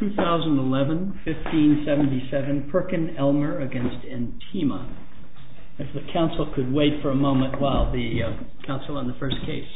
2011-15-77 PERKINELMER v. INTEMA 2011-15-77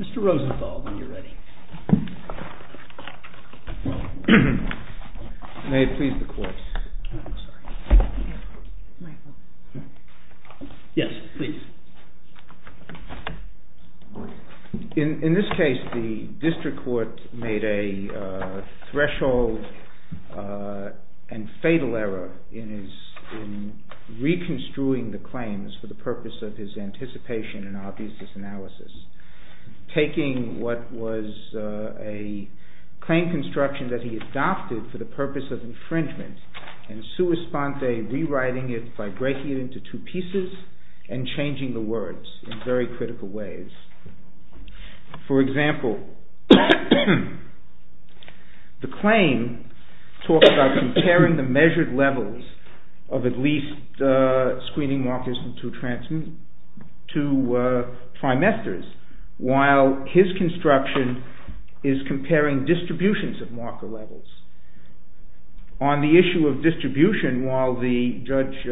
Mr. Rosenthal, when you're ready. May it please the courts. Yes, please. In this case, the district court made a threshold and fatal error in reconstruing the claims for the purpose of his anticipation and obviousness analysis. Taking what was a claim construction that he adopted for the purpose of infringement and sua sponte rewriting it by breaking it into two pieces and changing the words in very critical ways. For example, the claim talks about comparing the measured levels of at least screening markers in two trimesters while his construction is comparing distributions of marker levels. On the issue of distribution, while Judge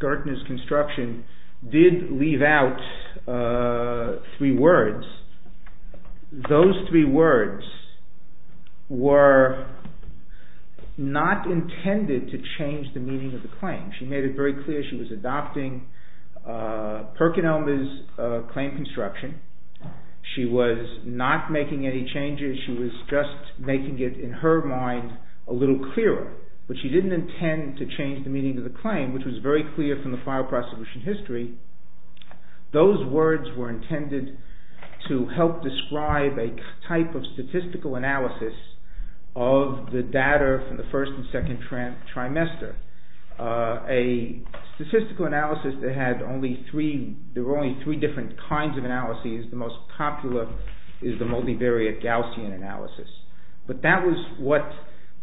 Gertner's construction did leave out three words, those three words were not intended to change the meaning of the claim. She made it very clear she was adopting Perkinelmer's claim construction. She was not making any changes, she was just making it in her mind a little clearer. But she didn't intend to change the meaning of the claim, which was very clear from the file prosecution history. Those words were intended to help describe a type of statistical analysis of the data from the first and second trimester. A statistical analysis that had only three different kinds of analyses, the most popular is the multivariate Gaussian analysis. But that was what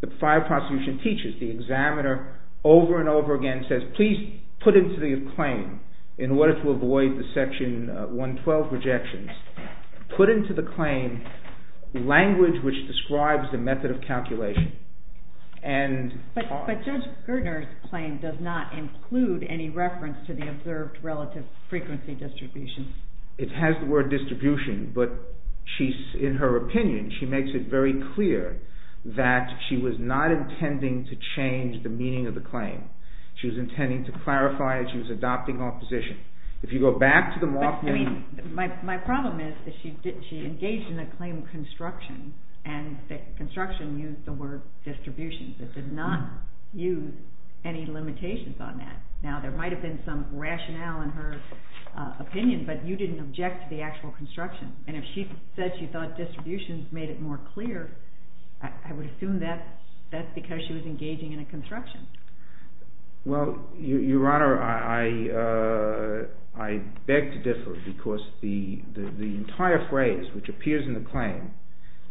the file prosecution teaches. The examiner over and over again says, please put into the claim, in order to avoid the section 112 rejections, put into the claim language which describes the method of calculation. But Judge Gertner's claim does not include any reference to the observed relative frequency distribution. It has the word distribution, but in her opinion, she makes it very clear that she was not intending to change the meaning of the claim. She was intending to clarify that she was adopting opposition. My problem is that she engaged in a claim construction, and construction used the word distribution. It did not use any limitations on that. Now there might have been some rationale in her opinion, but you didn't object to the actual construction. And if she said she thought distribution made it more clear, I would assume that's because she was engaging in a construction. Well, Your Honor, I beg to differ, because the entire phrase which appears in the claim,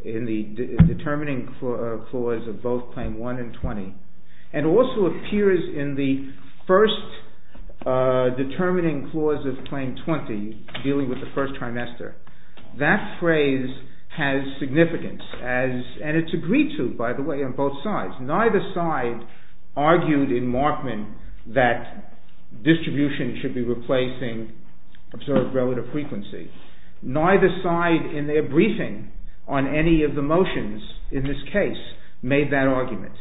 in the determining clause of both Claim 1 and 20, and also appears in the first determining clause of Claim 20, dealing with the first trimester, that phrase has significance, and it's agreed to, by the way, on both sides. Neither side argued in Markman that distribution should be replacing observed relative frequency. Neither side, in their briefing on any of the motions in this case, made that argument.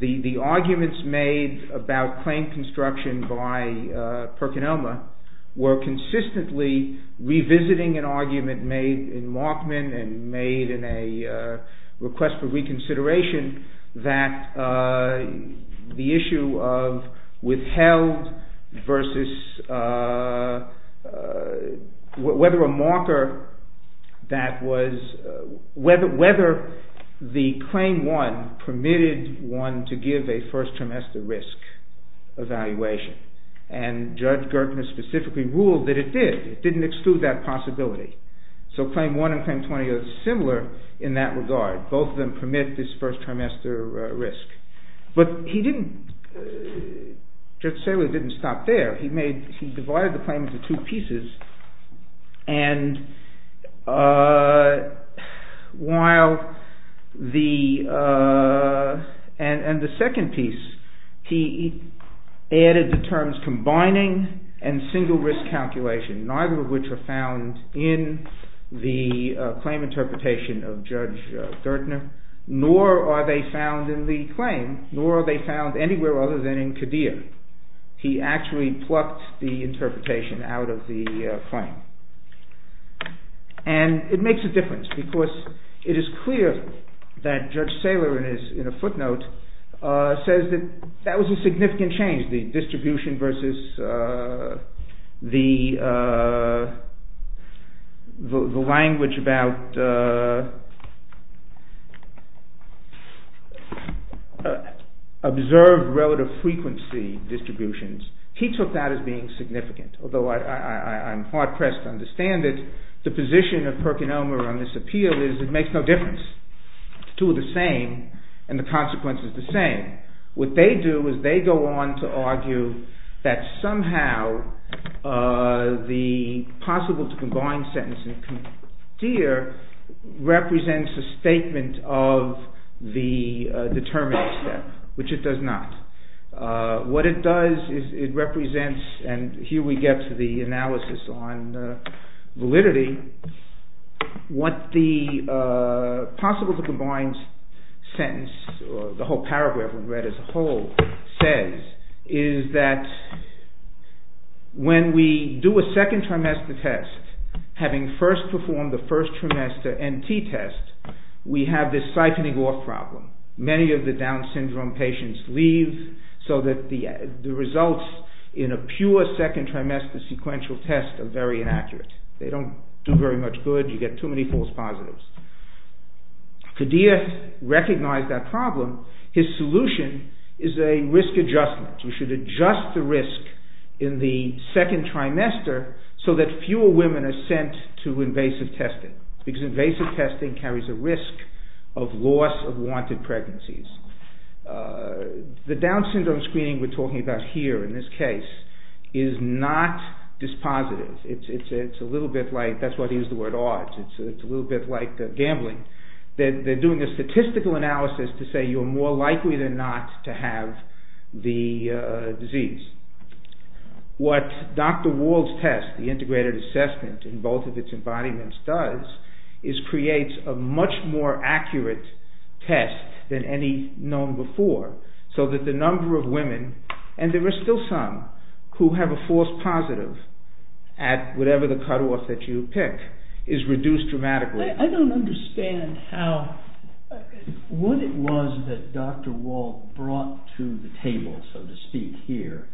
The arguments made about claim construction by Perkin-Elmer were consistently revisiting an argument made in Markman, and made in a request for reconsideration, that the issue of withheld versus whether a marker that was, whether the Claim 1 permitted one to give a first trimester risk evaluation. And Judge Gertner specifically ruled that it did. It didn't exclude that possibility. So Claim 1 and Claim 20 are similar in that regard. Both of them permit this first trimester risk. But he didn't, Judge Saylor didn't stop there. He made, he divided the claim into two pieces, and while the, and the second piece, he added the terms combining and single risk calculation, neither of which are found in the claim interpretation of Judge Gertner, nor are they found in the claim, nor are they found anywhere other than in Qadir. He actually plucked the interpretation out of the claim. And it makes a difference, because it is clear that Judge Saylor, in a footnote, says that that was a significant change, the distribution versus the language about observed relative frequency distributions. He took that as being significant, although I'm hard-pressed to understand it. The position of Perkin Elmer on this appeal is it makes no difference. The two are the same, and the consequence is the same. What they do is they go on to argue that somehow the possible-to-combine sentence in Qadir represents a statement of the determinant step, which it does not. What it does is it represents, and here we get to the analysis on validity, what the possible-to-combine sentence, the whole paragraph we've read as a whole, says, is that when we do a second-trimester test, having first performed the first-trimester NT test, we have this siphoning-off problem. Many of the Down syndrome patients leave, so that the results in a pure second-trimester sequential test are very inaccurate. They don't do very much good. You get too many false positives. Qadir recognized that problem. His solution is a risk adjustment. We should adjust the risk in the second-trimester so that fewer women are sent to invasive testing, because invasive testing carries a risk of loss of wanted pregnancies. The Down syndrome screening we're talking about here, in this case, is not dispositive. That's why they use the word odds. It's a little bit like gambling. They're doing a statistical analysis to say you're more likely than not to have the disease. What Dr. Wald's test, the integrated assessment in both of its embodiments, does is creates a much more accurate test than any known before, so that the number of women, and there are still some who have a false positive at whatever the cutoff that you pick, is reduced dramatically. I don't understand what it was that Dr. Wald brought to the table, so to speak, here,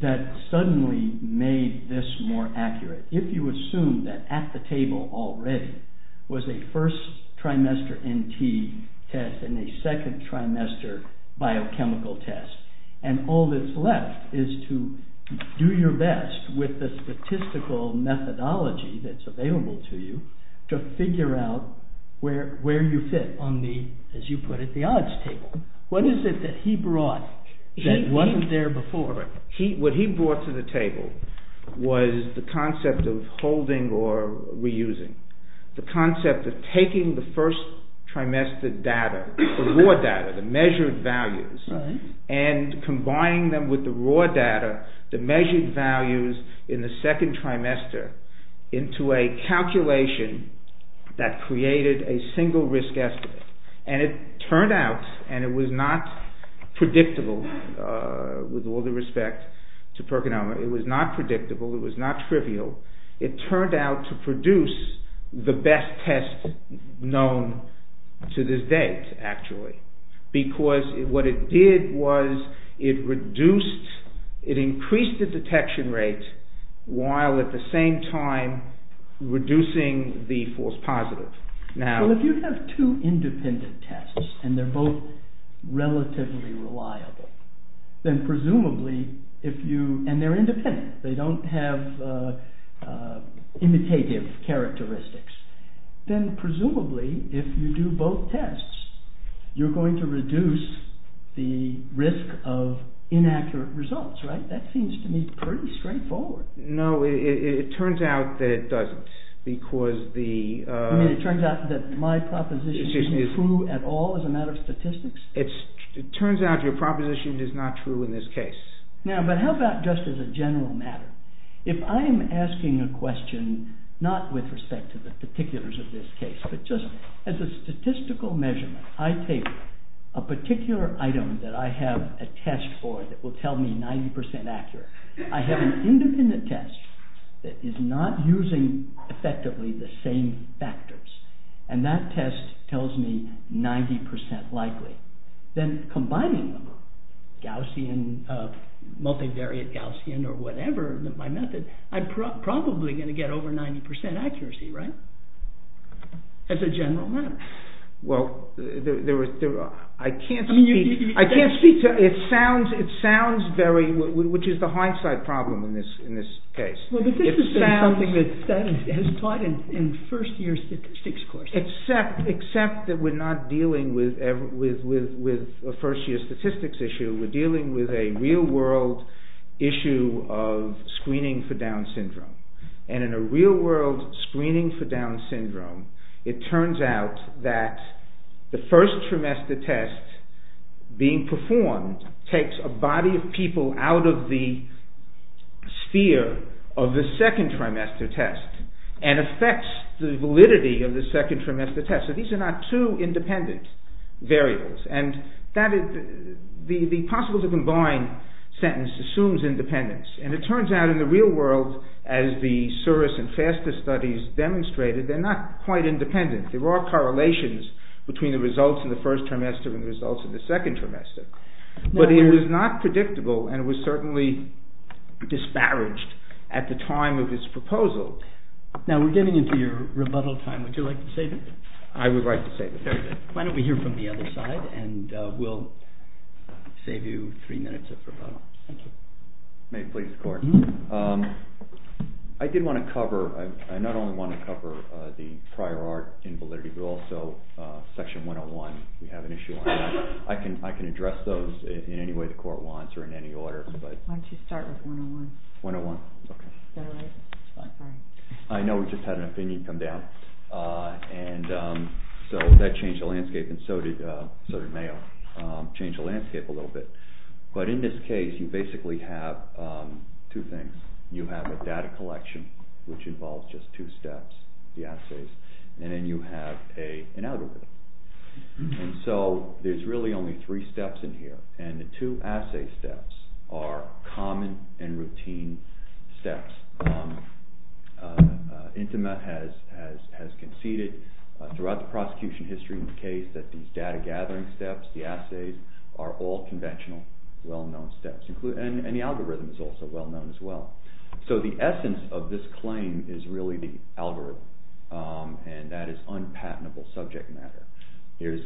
that suddenly made this more accurate. If you assume that at the table already was a first-trimester NT test and a second-trimester biochemical test, and all that's left is to do your best with the statistical methodology that's available to you to figure out where you fit on the, as you put it, the odds table. What is it that he brought that wasn't there before? What he brought to the table was the concept of holding or reusing. The concept of taking the first-trimester data, the raw data, the measured values, and combining them with the raw data, the measured values in the second trimester, into a calculation that created a single risk estimate. And it turned out, and it was not predictable with all due respect to Perkinoma, it was not predictable, it was not trivial, it turned out to produce the best test known to this day, actually, because what it did was it reduced, it increased the detection rate while at the same time reducing the false positive. Well, if you have two independent tests and they're both relatively reliable, and they're independent, they don't have imitative characteristics, then presumably, if you do both tests, you're going to reduce the risk of inaccurate results, right? That seems to me pretty straightforward. No, it turns out that it doesn't, because the… You mean it turns out that my proposition isn't true at all as a matter of statistics? It turns out your proposition is not true in this case. Now, but how about just as a general matter? If I am asking a question, not with respect to the particulars of this case, but just as a statistical measurement, I take a particular item that I have a test for that will tell me 90% accurate, I have an independent test that is not using effectively the same factors, and that test tells me 90% likely, then combining them, Gaussian, multivariate Gaussian or whatever, my method, I'm probably going to get over 90% accuracy, right? As a general matter. Well, I can't speak to… I mean, you… I can't speak to… it sounds very… which is the hindsight problem in this case. Well, but this is something that has taught in first year six courses. Except that we're not dealing with a first year statistics issue, we're dealing with a real world issue of screening for Down syndrome. And in a real world screening for Down syndrome, it turns out that the first trimester test being performed takes a body of people out of the sphere of the second trimester test and affects the validity of the second trimester test. So these are not two independent variables. And that is… the possible to combine sentence assumes independence. And it turns out in the real world, as the Souris and FASTA studies demonstrated, they're not quite independent. There are correlations between the results in the first trimester and the results in the second trimester. But it is not predictable and it was certainly disparaged at the time of this proposal. Now we're getting into your rebuttal time. Would you like to save it? I would like to save it. Very good. Why don't we hear from the other side and we'll save you three minutes of rebuttal. Thank you. May I please, court? Mm-hmm. I did want to cover… I not only want to cover the prior art in validity, but also section 101. We have an issue on that. I can address those in any way the court wants or in any order, but… Why don't you start with 101? 101. Is that all right? It's fine. I know we just had an opinion come down and so that changed the landscape and so did Mayo, changed the landscape a little bit. But in this case, you basically have two things. You have a data collection, which involves just two steps, the assays, and then you have an algorithm. And so there's really only three steps in here. And the two assay steps are common and routine steps. Intima has conceded throughout the prosecution history in the case that these data gathering steps, the assays, are all conventional, well-known steps. And the algorithm is also well-known as well. So the essence of this claim is really the algorithm, and that is unpatentable subject matter. Here's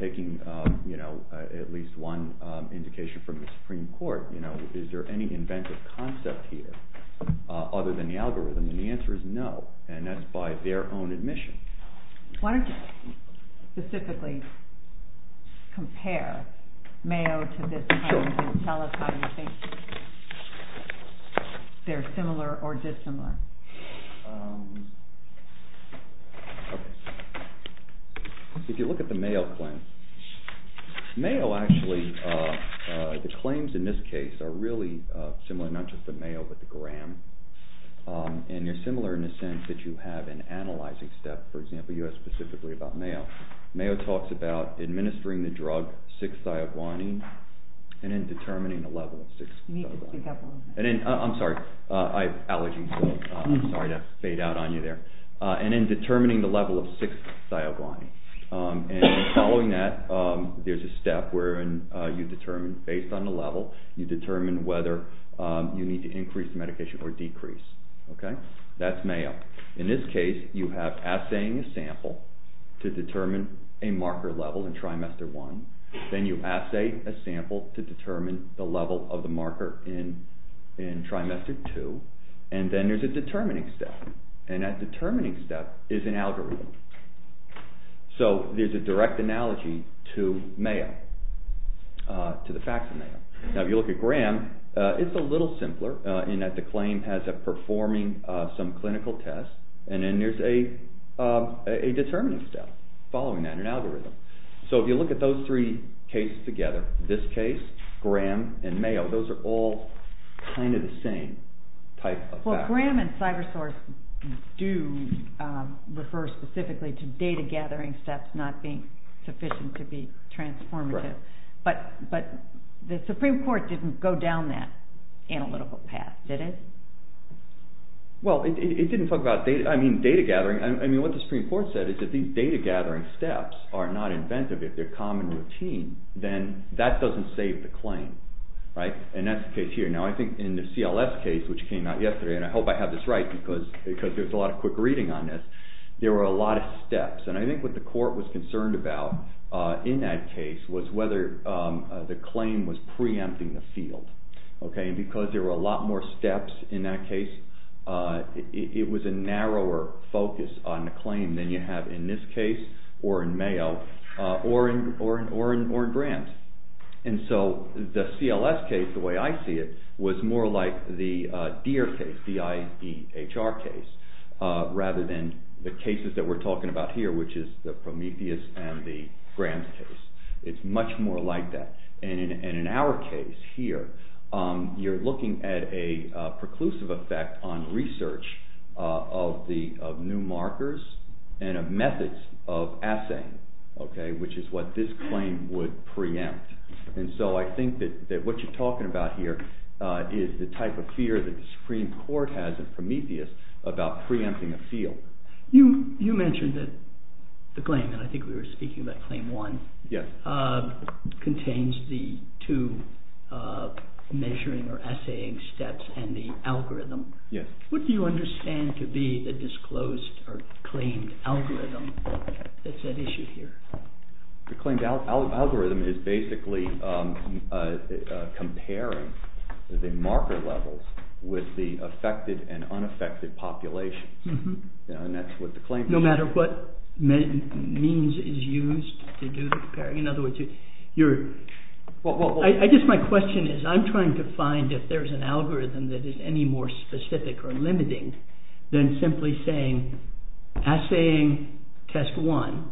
taking at least one indication from the Supreme Court. Is there any inventive concept here other than the algorithm? And the answer is no, and that's by their own admission. Why don't you specifically compare Mayo to this claim and tell us how you think they're similar or dissimilar. If you look at the Mayo claim, Mayo actually, the claims in this case are really similar, not just the Mayo but the Graham. And they're similar in the sense that you have an analyzing step. For example, you have specifically about Mayo. Mayo talks about administering the drug 6-thioguanine and then determining the level of 6-thioguanine. I'm sorry, I have allergies, so I'm sorry to fade out on you there. And then determining the level of 6-thioguanine. And following that, there's a step where you determine, based on the level, you determine whether you need to increase the medication or decrease. That's Mayo. In this case, you have assaying a sample to determine a marker level in trimester 1. Then you assay a sample to determine the level of the marker in trimester 2. And then there's a determining step, and that determining step is an algorithm. So there's a direct analogy to Mayo, to the facts of Mayo. Now if you look at Graham, it's a little simpler in that the claim has a performing some clinical test. And then there's a determining step following that, an algorithm. So if you look at those three cases together, this case, Graham, and Mayo, those are all kind of the same type of facts. Graham and CyberSource do refer specifically to data gathering steps not being sufficient to be transformative. But the Supreme Court didn't go down that analytical path, did it? Well, it didn't talk about data gathering. What the Supreme Court said is that these data gathering steps are not inventive. If they're common routine, then that doesn't save the claim. And that's the case here. Now I think in the CLS case, which came out yesterday, and I hope I have this right because there's a lot of quick reading on this, there were a lot of steps. And I think what the court was concerned about in that case was whether the claim was preempting the field. And because there were a lot more steps in that case, it was a narrower focus on the claim than you have in this case or in Mayo or in Graham's. And so the CLS case, the way I see it, was more like the Deer case, D-I-E-H-R case, rather than the cases that we're talking about here, which is the Prometheus and the Graham's case. It's much more like that. And in our case here, you're looking at a preclusive effect on research of new markers and of methods of assaying, which is what this claim would preempt. And so I think that what you're talking about here is the type of fear that the Supreme Court has in Prometheus about preempting a field. You mentioned that the claim, and I think we were speaking about Claim 1, contains the two measuring or assaying steps and the algorithm. What do you understand to be the disclosed or claimed algorithm that's at issue here? The claimed algorithm is basically comparing the marker levels with the affected and unaffected populations. And that's what the claim says. No matter what means is used to do the comparing? I guess my question is, I'm trying to find if there's an algorithm that is any more specific or limiting than simply saying assaying test 1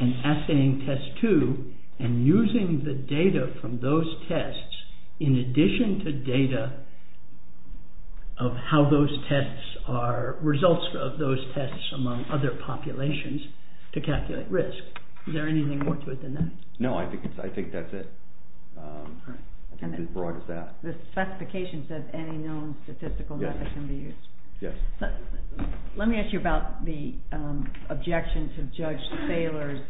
and assaying test 2 and using the data from those tests in addition to data of how those tests are results of those tests among other populations to calculate risk. Is there anything more to it than that? No, I think that's it. How broad is that? The specification says any known statistical method can be used. Let me ask you about the objection to Judge Thaler's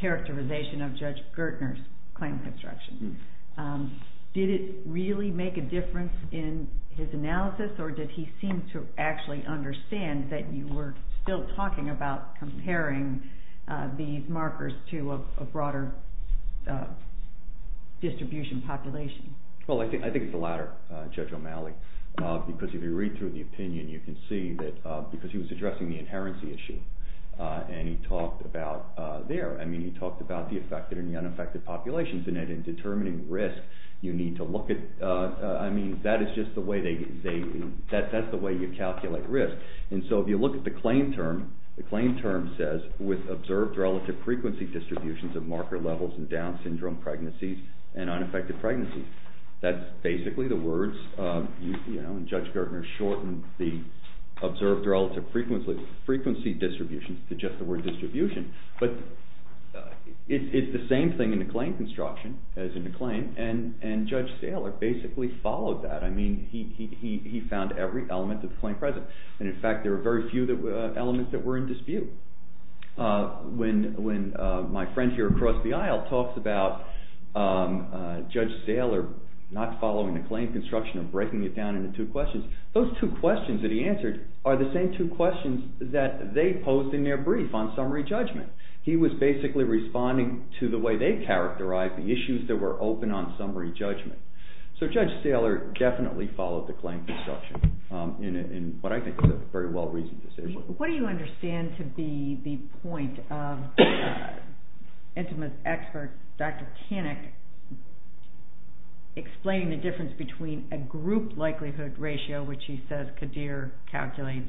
characterization of Judge Gertner's claim construction. Did it really make a difference in his analysis, or did he seem to actually understand that you were still talking about comparing these markers to a broader distribution population? Well, I think it's the latter, Judge O'Malley, because if you read through the opinion, you can see that because he was addressing the inherency issue, and he talked about the affected and the unaffected populations, and in determining risk, you need to look at, I mean, that is just the way you calculate risk. And so if you look at the claim term, the claim term says, with observed relative frequency distributions of marker levels in Down syndrome pregnancies and unaffected pregnancies. That's basically the words, you know, and Judge Gertner shortened the observed relative frequency distributions to just the word distribution. But it's the same thing in the claim construction as in the claim, and Judge Thaler basically followed that. I mean, he found every element of the claim present, and in fact, there were very few elements that were in dispute. When my friend here across the aisle talks about Judge Thaler not following the claim construction or breaking it down into two questions, those two questions that he answered are the same two questions that they posed in their brief on summary judgment. He was basically responding to the way they characterized the issues that were open on summary judgment. So Judge Thaler definitely followed the claim construction in what I think is a very well-reasoned decision. What do you understand to be the point of Intimus expert Dr. Tannick explaining the difference between a group likelihood ratio, which he says Qadir calculates,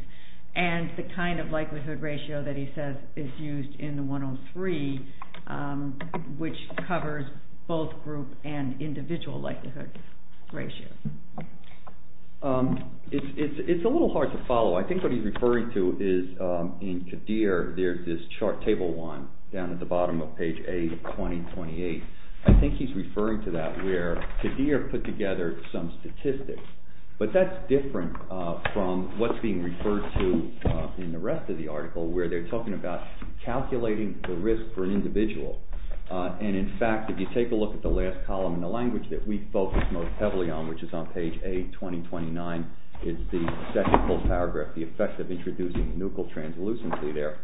and the kind of likelihood ratio that he says is used in the 103, which covers both group and individual likelihood ratios? It's a little hard to follow. I think what he's referring to is in Qadir, there's this table 1 down at the bottom of page 8 of 2028. I think he's referring to that where Qadir put together some statistics, but that's different from what's being referred to in the rest of the article where they're talking about calculating the risk for an individual. And in fact, if you take a look at the last column in the language that we focus most heavily on, which is on page 8, 2029, is the second full paragraph, the effect of introducing nuchal translucency there.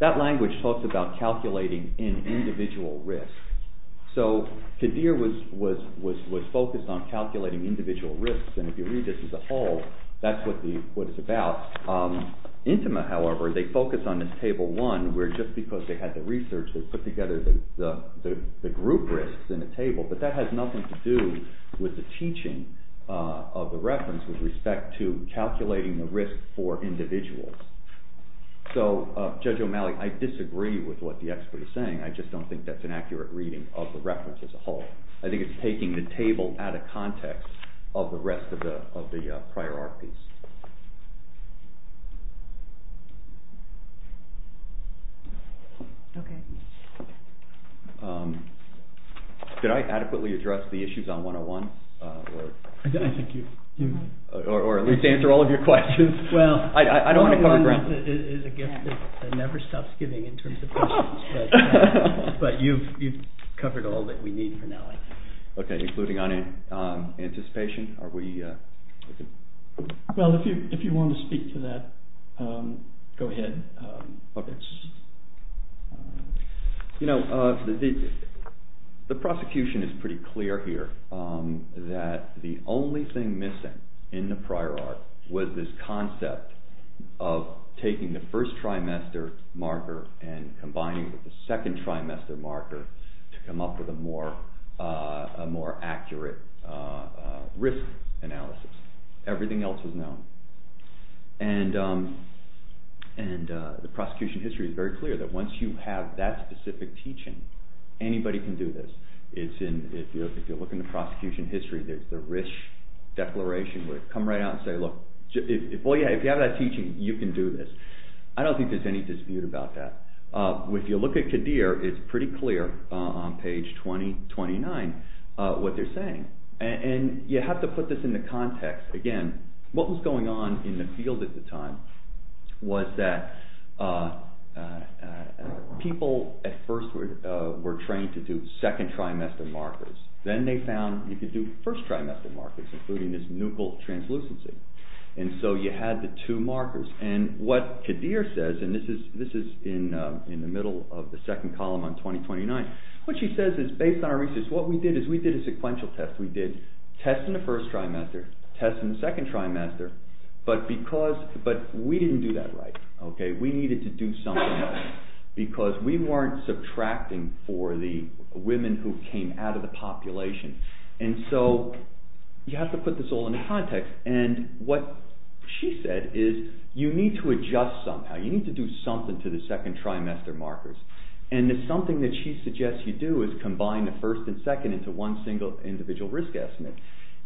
That language talks about calculating an individual risk. So Qadir was focused on calculating individual risks, and if you read this as a whole, that's what it's about. Intima, however, they focus on this table 1 where just because they had the research, they put together the group risks in the table, but that has nothing to do with the teaching of the reference with respect to calculating the risk for individuals. So, Judge O'Malley, I disagree with what the expert is saying. I just don't think that's an accurate reading of the reference as a whole. I think it's taking the table out of context of the rest of the priorities. Did I adequately address the issues on 101? I think you did. Or at least answer all of your questions. Well, 101 is a gift that never stops giving in terms of questions, but you've covered all that we need for now. Okay, including anticipation? Well, if you want to speak to that, go ahead. Okay. You know, the prosecution is pretty clear here that the only thing missing in the prior art was this concept of taking the first trimester marker and combining it with the second trimester marker to come up with a more accurate risk analysis. Everything else is known. And the prosecution history is very clear that once you have that specific teaching, anybody can do this. If you look in the prosecution history, there's the RISH declaration where they come right out and say, look, if you have that teaching, you can do this. I don't think there's any dispute about that. If you look at Qadir, it's pretty clear on page 2029 what they're saying. And you have to put this into context. Again, what was going on in the field at the time was that people at first were trained to do second trimester markers. Then they found you could do first trimester markers, including this nuchal translucency. And so you had the two markers. And what Qadir says, and this is in the middle of the second column on 2029, what she says is based on our research, what we did is we did a sequential test. We did tests in the first trimester, tests in the second trimester, but we didn't do that right. We needed to do something else because we weren't subtracting for the women who came out of the population. And so you have to put this all into context. And what she said is you need to adjust somehow. You need to do something to the second trimester markers. And something that she suggests you do is combine the first and second into one single individual risk estimate.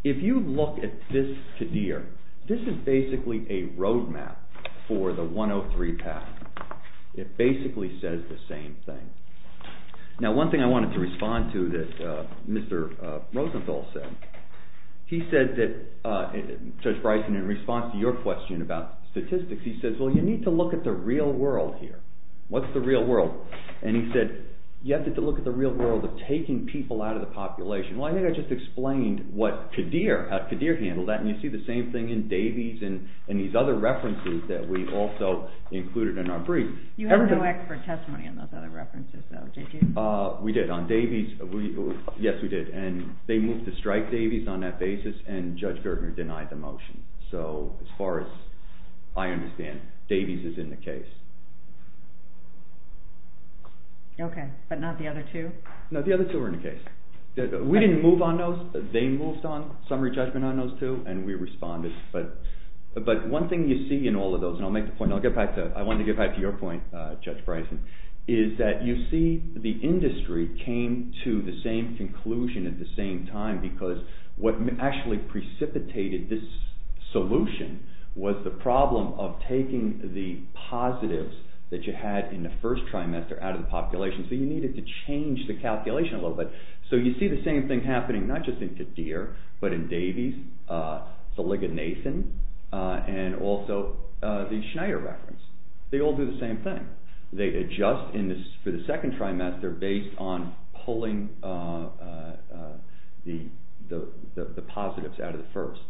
If you look at this Qadir, this is basically a road map for the 103 path. It basically says the same thing. Now one thing I wanted to respond to that Mr. Rosenthal said, he said that, Judge Bryson, in response to your question about statistics, he says well you need to look at the real world here. What's the real world? And he said you have to look at the real world of taking people out of the population. Well I think I just explained what Qadir, how Qadir handled that. And you see the same thing in Davies and these other references that we also included in our brief. You had no expert testimony on those other references though, did you? We did. On Davies, yes we did. And they moved to strike Davies on that basis and Judge Gertner denied the motion. So as far as I understand, Davies is in the case. Okay, but not the other two? No, the other two are in the case. We didn't move on those. They moved on summary judgment on those two and we responded. But one thing you see in all of those, and I'll make the point, I'll get back to, I wanted to get back to your point, Judge Bryson, is that you see the industry came to the same conclusion at the same time because what actually precipitated this solution was the problem of taking the positives that you had in the first trimester out of the population. So you needed to change the calculation a little bit. So you see the same thing happening not just in Kadir, but in Davies, the Ligonathan, and also the Schneider reference. They all do the same thing. They adjust for the second trimester based on pulling the positives out of the first.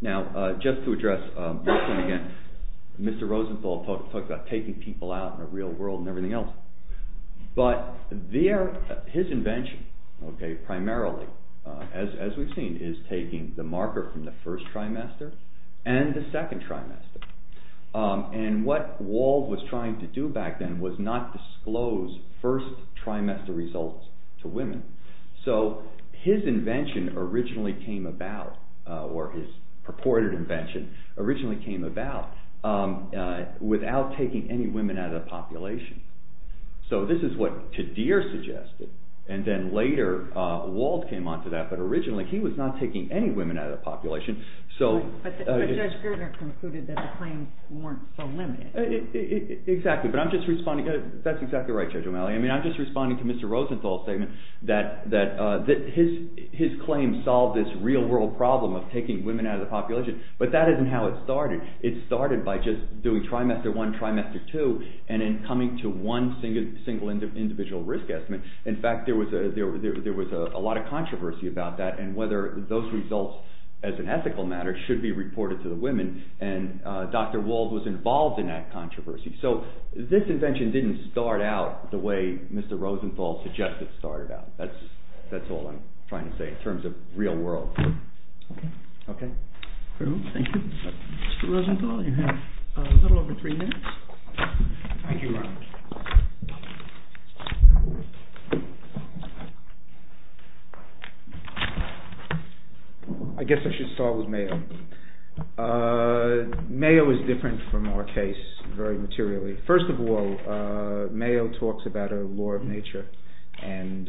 Now just to address this one again, Mr. Rosenthal talked about taking people out in the real world and everything else. But his invention primarily, as we've seen, is taking the marker from the first trimester and the second trimester. And what Wald was trying to do back then was not disclose first trimester results to women. So his invention originally came about, or his purported invention originally came about, without taking any women out of the population. So this is what Kadir suggested, and then later Wald came on to that, but originally he was not taking any women out of the population. But Judge Gertner concluded that the claims weren't so limited. Exactly, but that's exactly right, Judge O'Malley. I'm just responding to Mr. Rosenthal's statement that his claim solved this real world problem of taking women out of the population. But that isn't how it started. It started by just doing trimester one, trimester two, and then coming to one single individual risk estimate. In fact, there was a lot of controversy about that and whether those results, as an ethical matter, should be reported to the women. And Dr. Wald was involved in that controversy. So this invention didn't start out the way Mr. Rosenthal suggested it started out. That's all I'm trying to say in terms of real world. Okay. Thank you. Mr. Rosenthal, you have a little over three minutes. Thank you, Robert. I guess I should start with Mayo. Mayo is different from our case very materially. First of all, Mayo talks about a law of nature and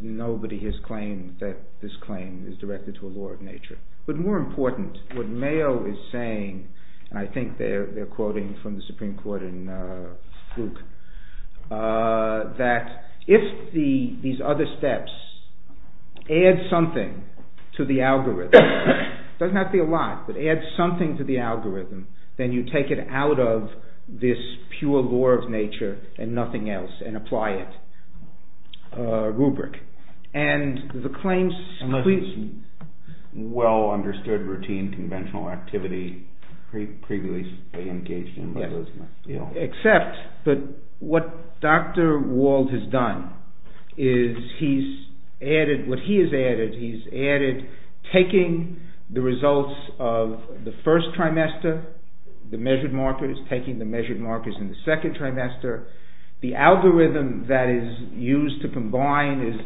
nobody has claimed that this claim is directed to a law of nature. But more important, what Mayo is saying, and I think they're quoting from the Supreme Court in Fluke, that if these other steps add something to the algorithm, it doesn't have to be a lot, but add something to the algorithm, then you take it out of this pure law of nature and nothing else and apply it. Rubric. Unless it's well understood routine conventional activity previously engaged in. Except that what Dr. Wald has done is he's added, what he has added, he's added taking the results of the first trimester, the measured markers, taking the measured markers in the second trimester, the algorithm that is used to combine is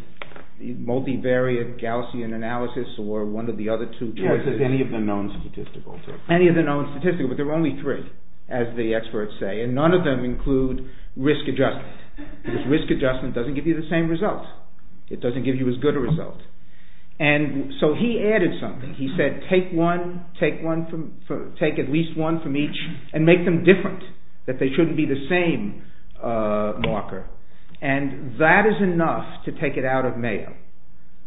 multivariate Gaussian analysis or one of the other two choices. Any of the known statistical. Any of the known statistical, but there are only three, as the experts say. And none of them include risk adjustment. Risk adjustment doesn't give you the same result. It doesn't give you as good a result. And so he added something. He said take one, take at least one from each and make them different. That they shouldn't be the same marker. And that is enough to take it out of Mayo.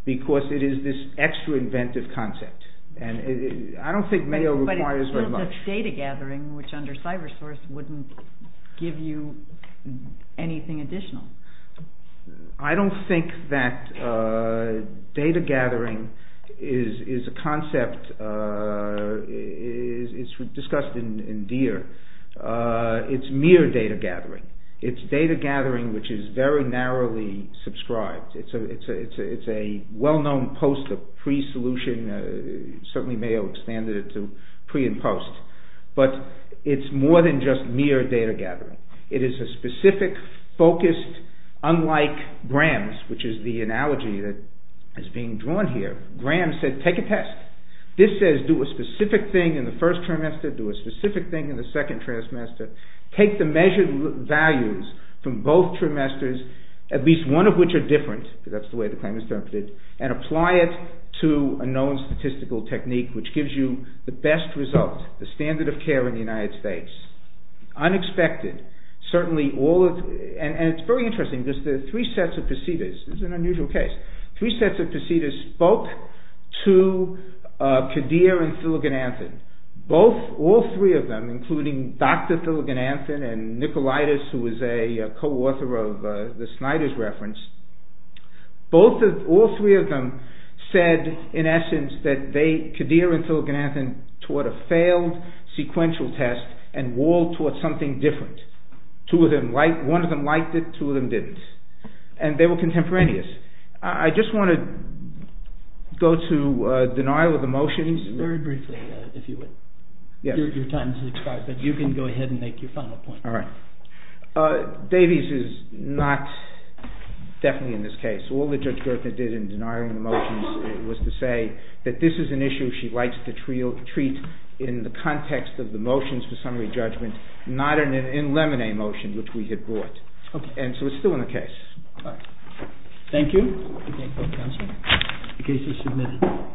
Because it is this extra inventive concept. And I don't think Mayo requires very much. But it builds up data gathering which under cyber source wouldn't give you anything additional. I don't think that data gathering is a concept. It's discussed in DEER. It's mere data gathering. It's data gathering which is very narrowly subscribed. It's a well-known post pre-solution. Certainly Mayo expanded it to pre and post. But it's more than just mere data gathering. It is a specific, focused, unlike Graham's, which is the analogy that is being drawn here. Graham said take a test. This says do a specific thing in the first trimester. Do a specific thing in the second trimester. Take the measured values from both trimesters, at least one of which are different. That's the way the claim is interpreted. And apply it to a known statistical technique which gives you the best result. The standard of care in the United States. Unexpected. And it's very interesting. There are three sets of procedures. It's an unusual case. Three sets of procedures spoke to Kadir and Filigan-Anthony. All three of them, including Dr. Filigan-Anthony and Nicolaitis who is a co-author of the Snyder's reference. All three of them said in essence that Kadir and Filigan-Anthony taught a failed sequential test and Wahl taught something different. One of them liked it, two of them didn't. And they were contemporaneous. I just want to go to denial of emotions. Very briefly, if you would. Your time is expired, but you can go ahead and make your final point. All right. Davies is not definitely in this case. All that Judge Gertner did in denying the motions was to say that this is an issue she likes to treat in the context of the motions for summary judgment, not in a lemonade motion which we had brought. And so it's still in the case. Thank you. Thank you, counsel. The case is submitted.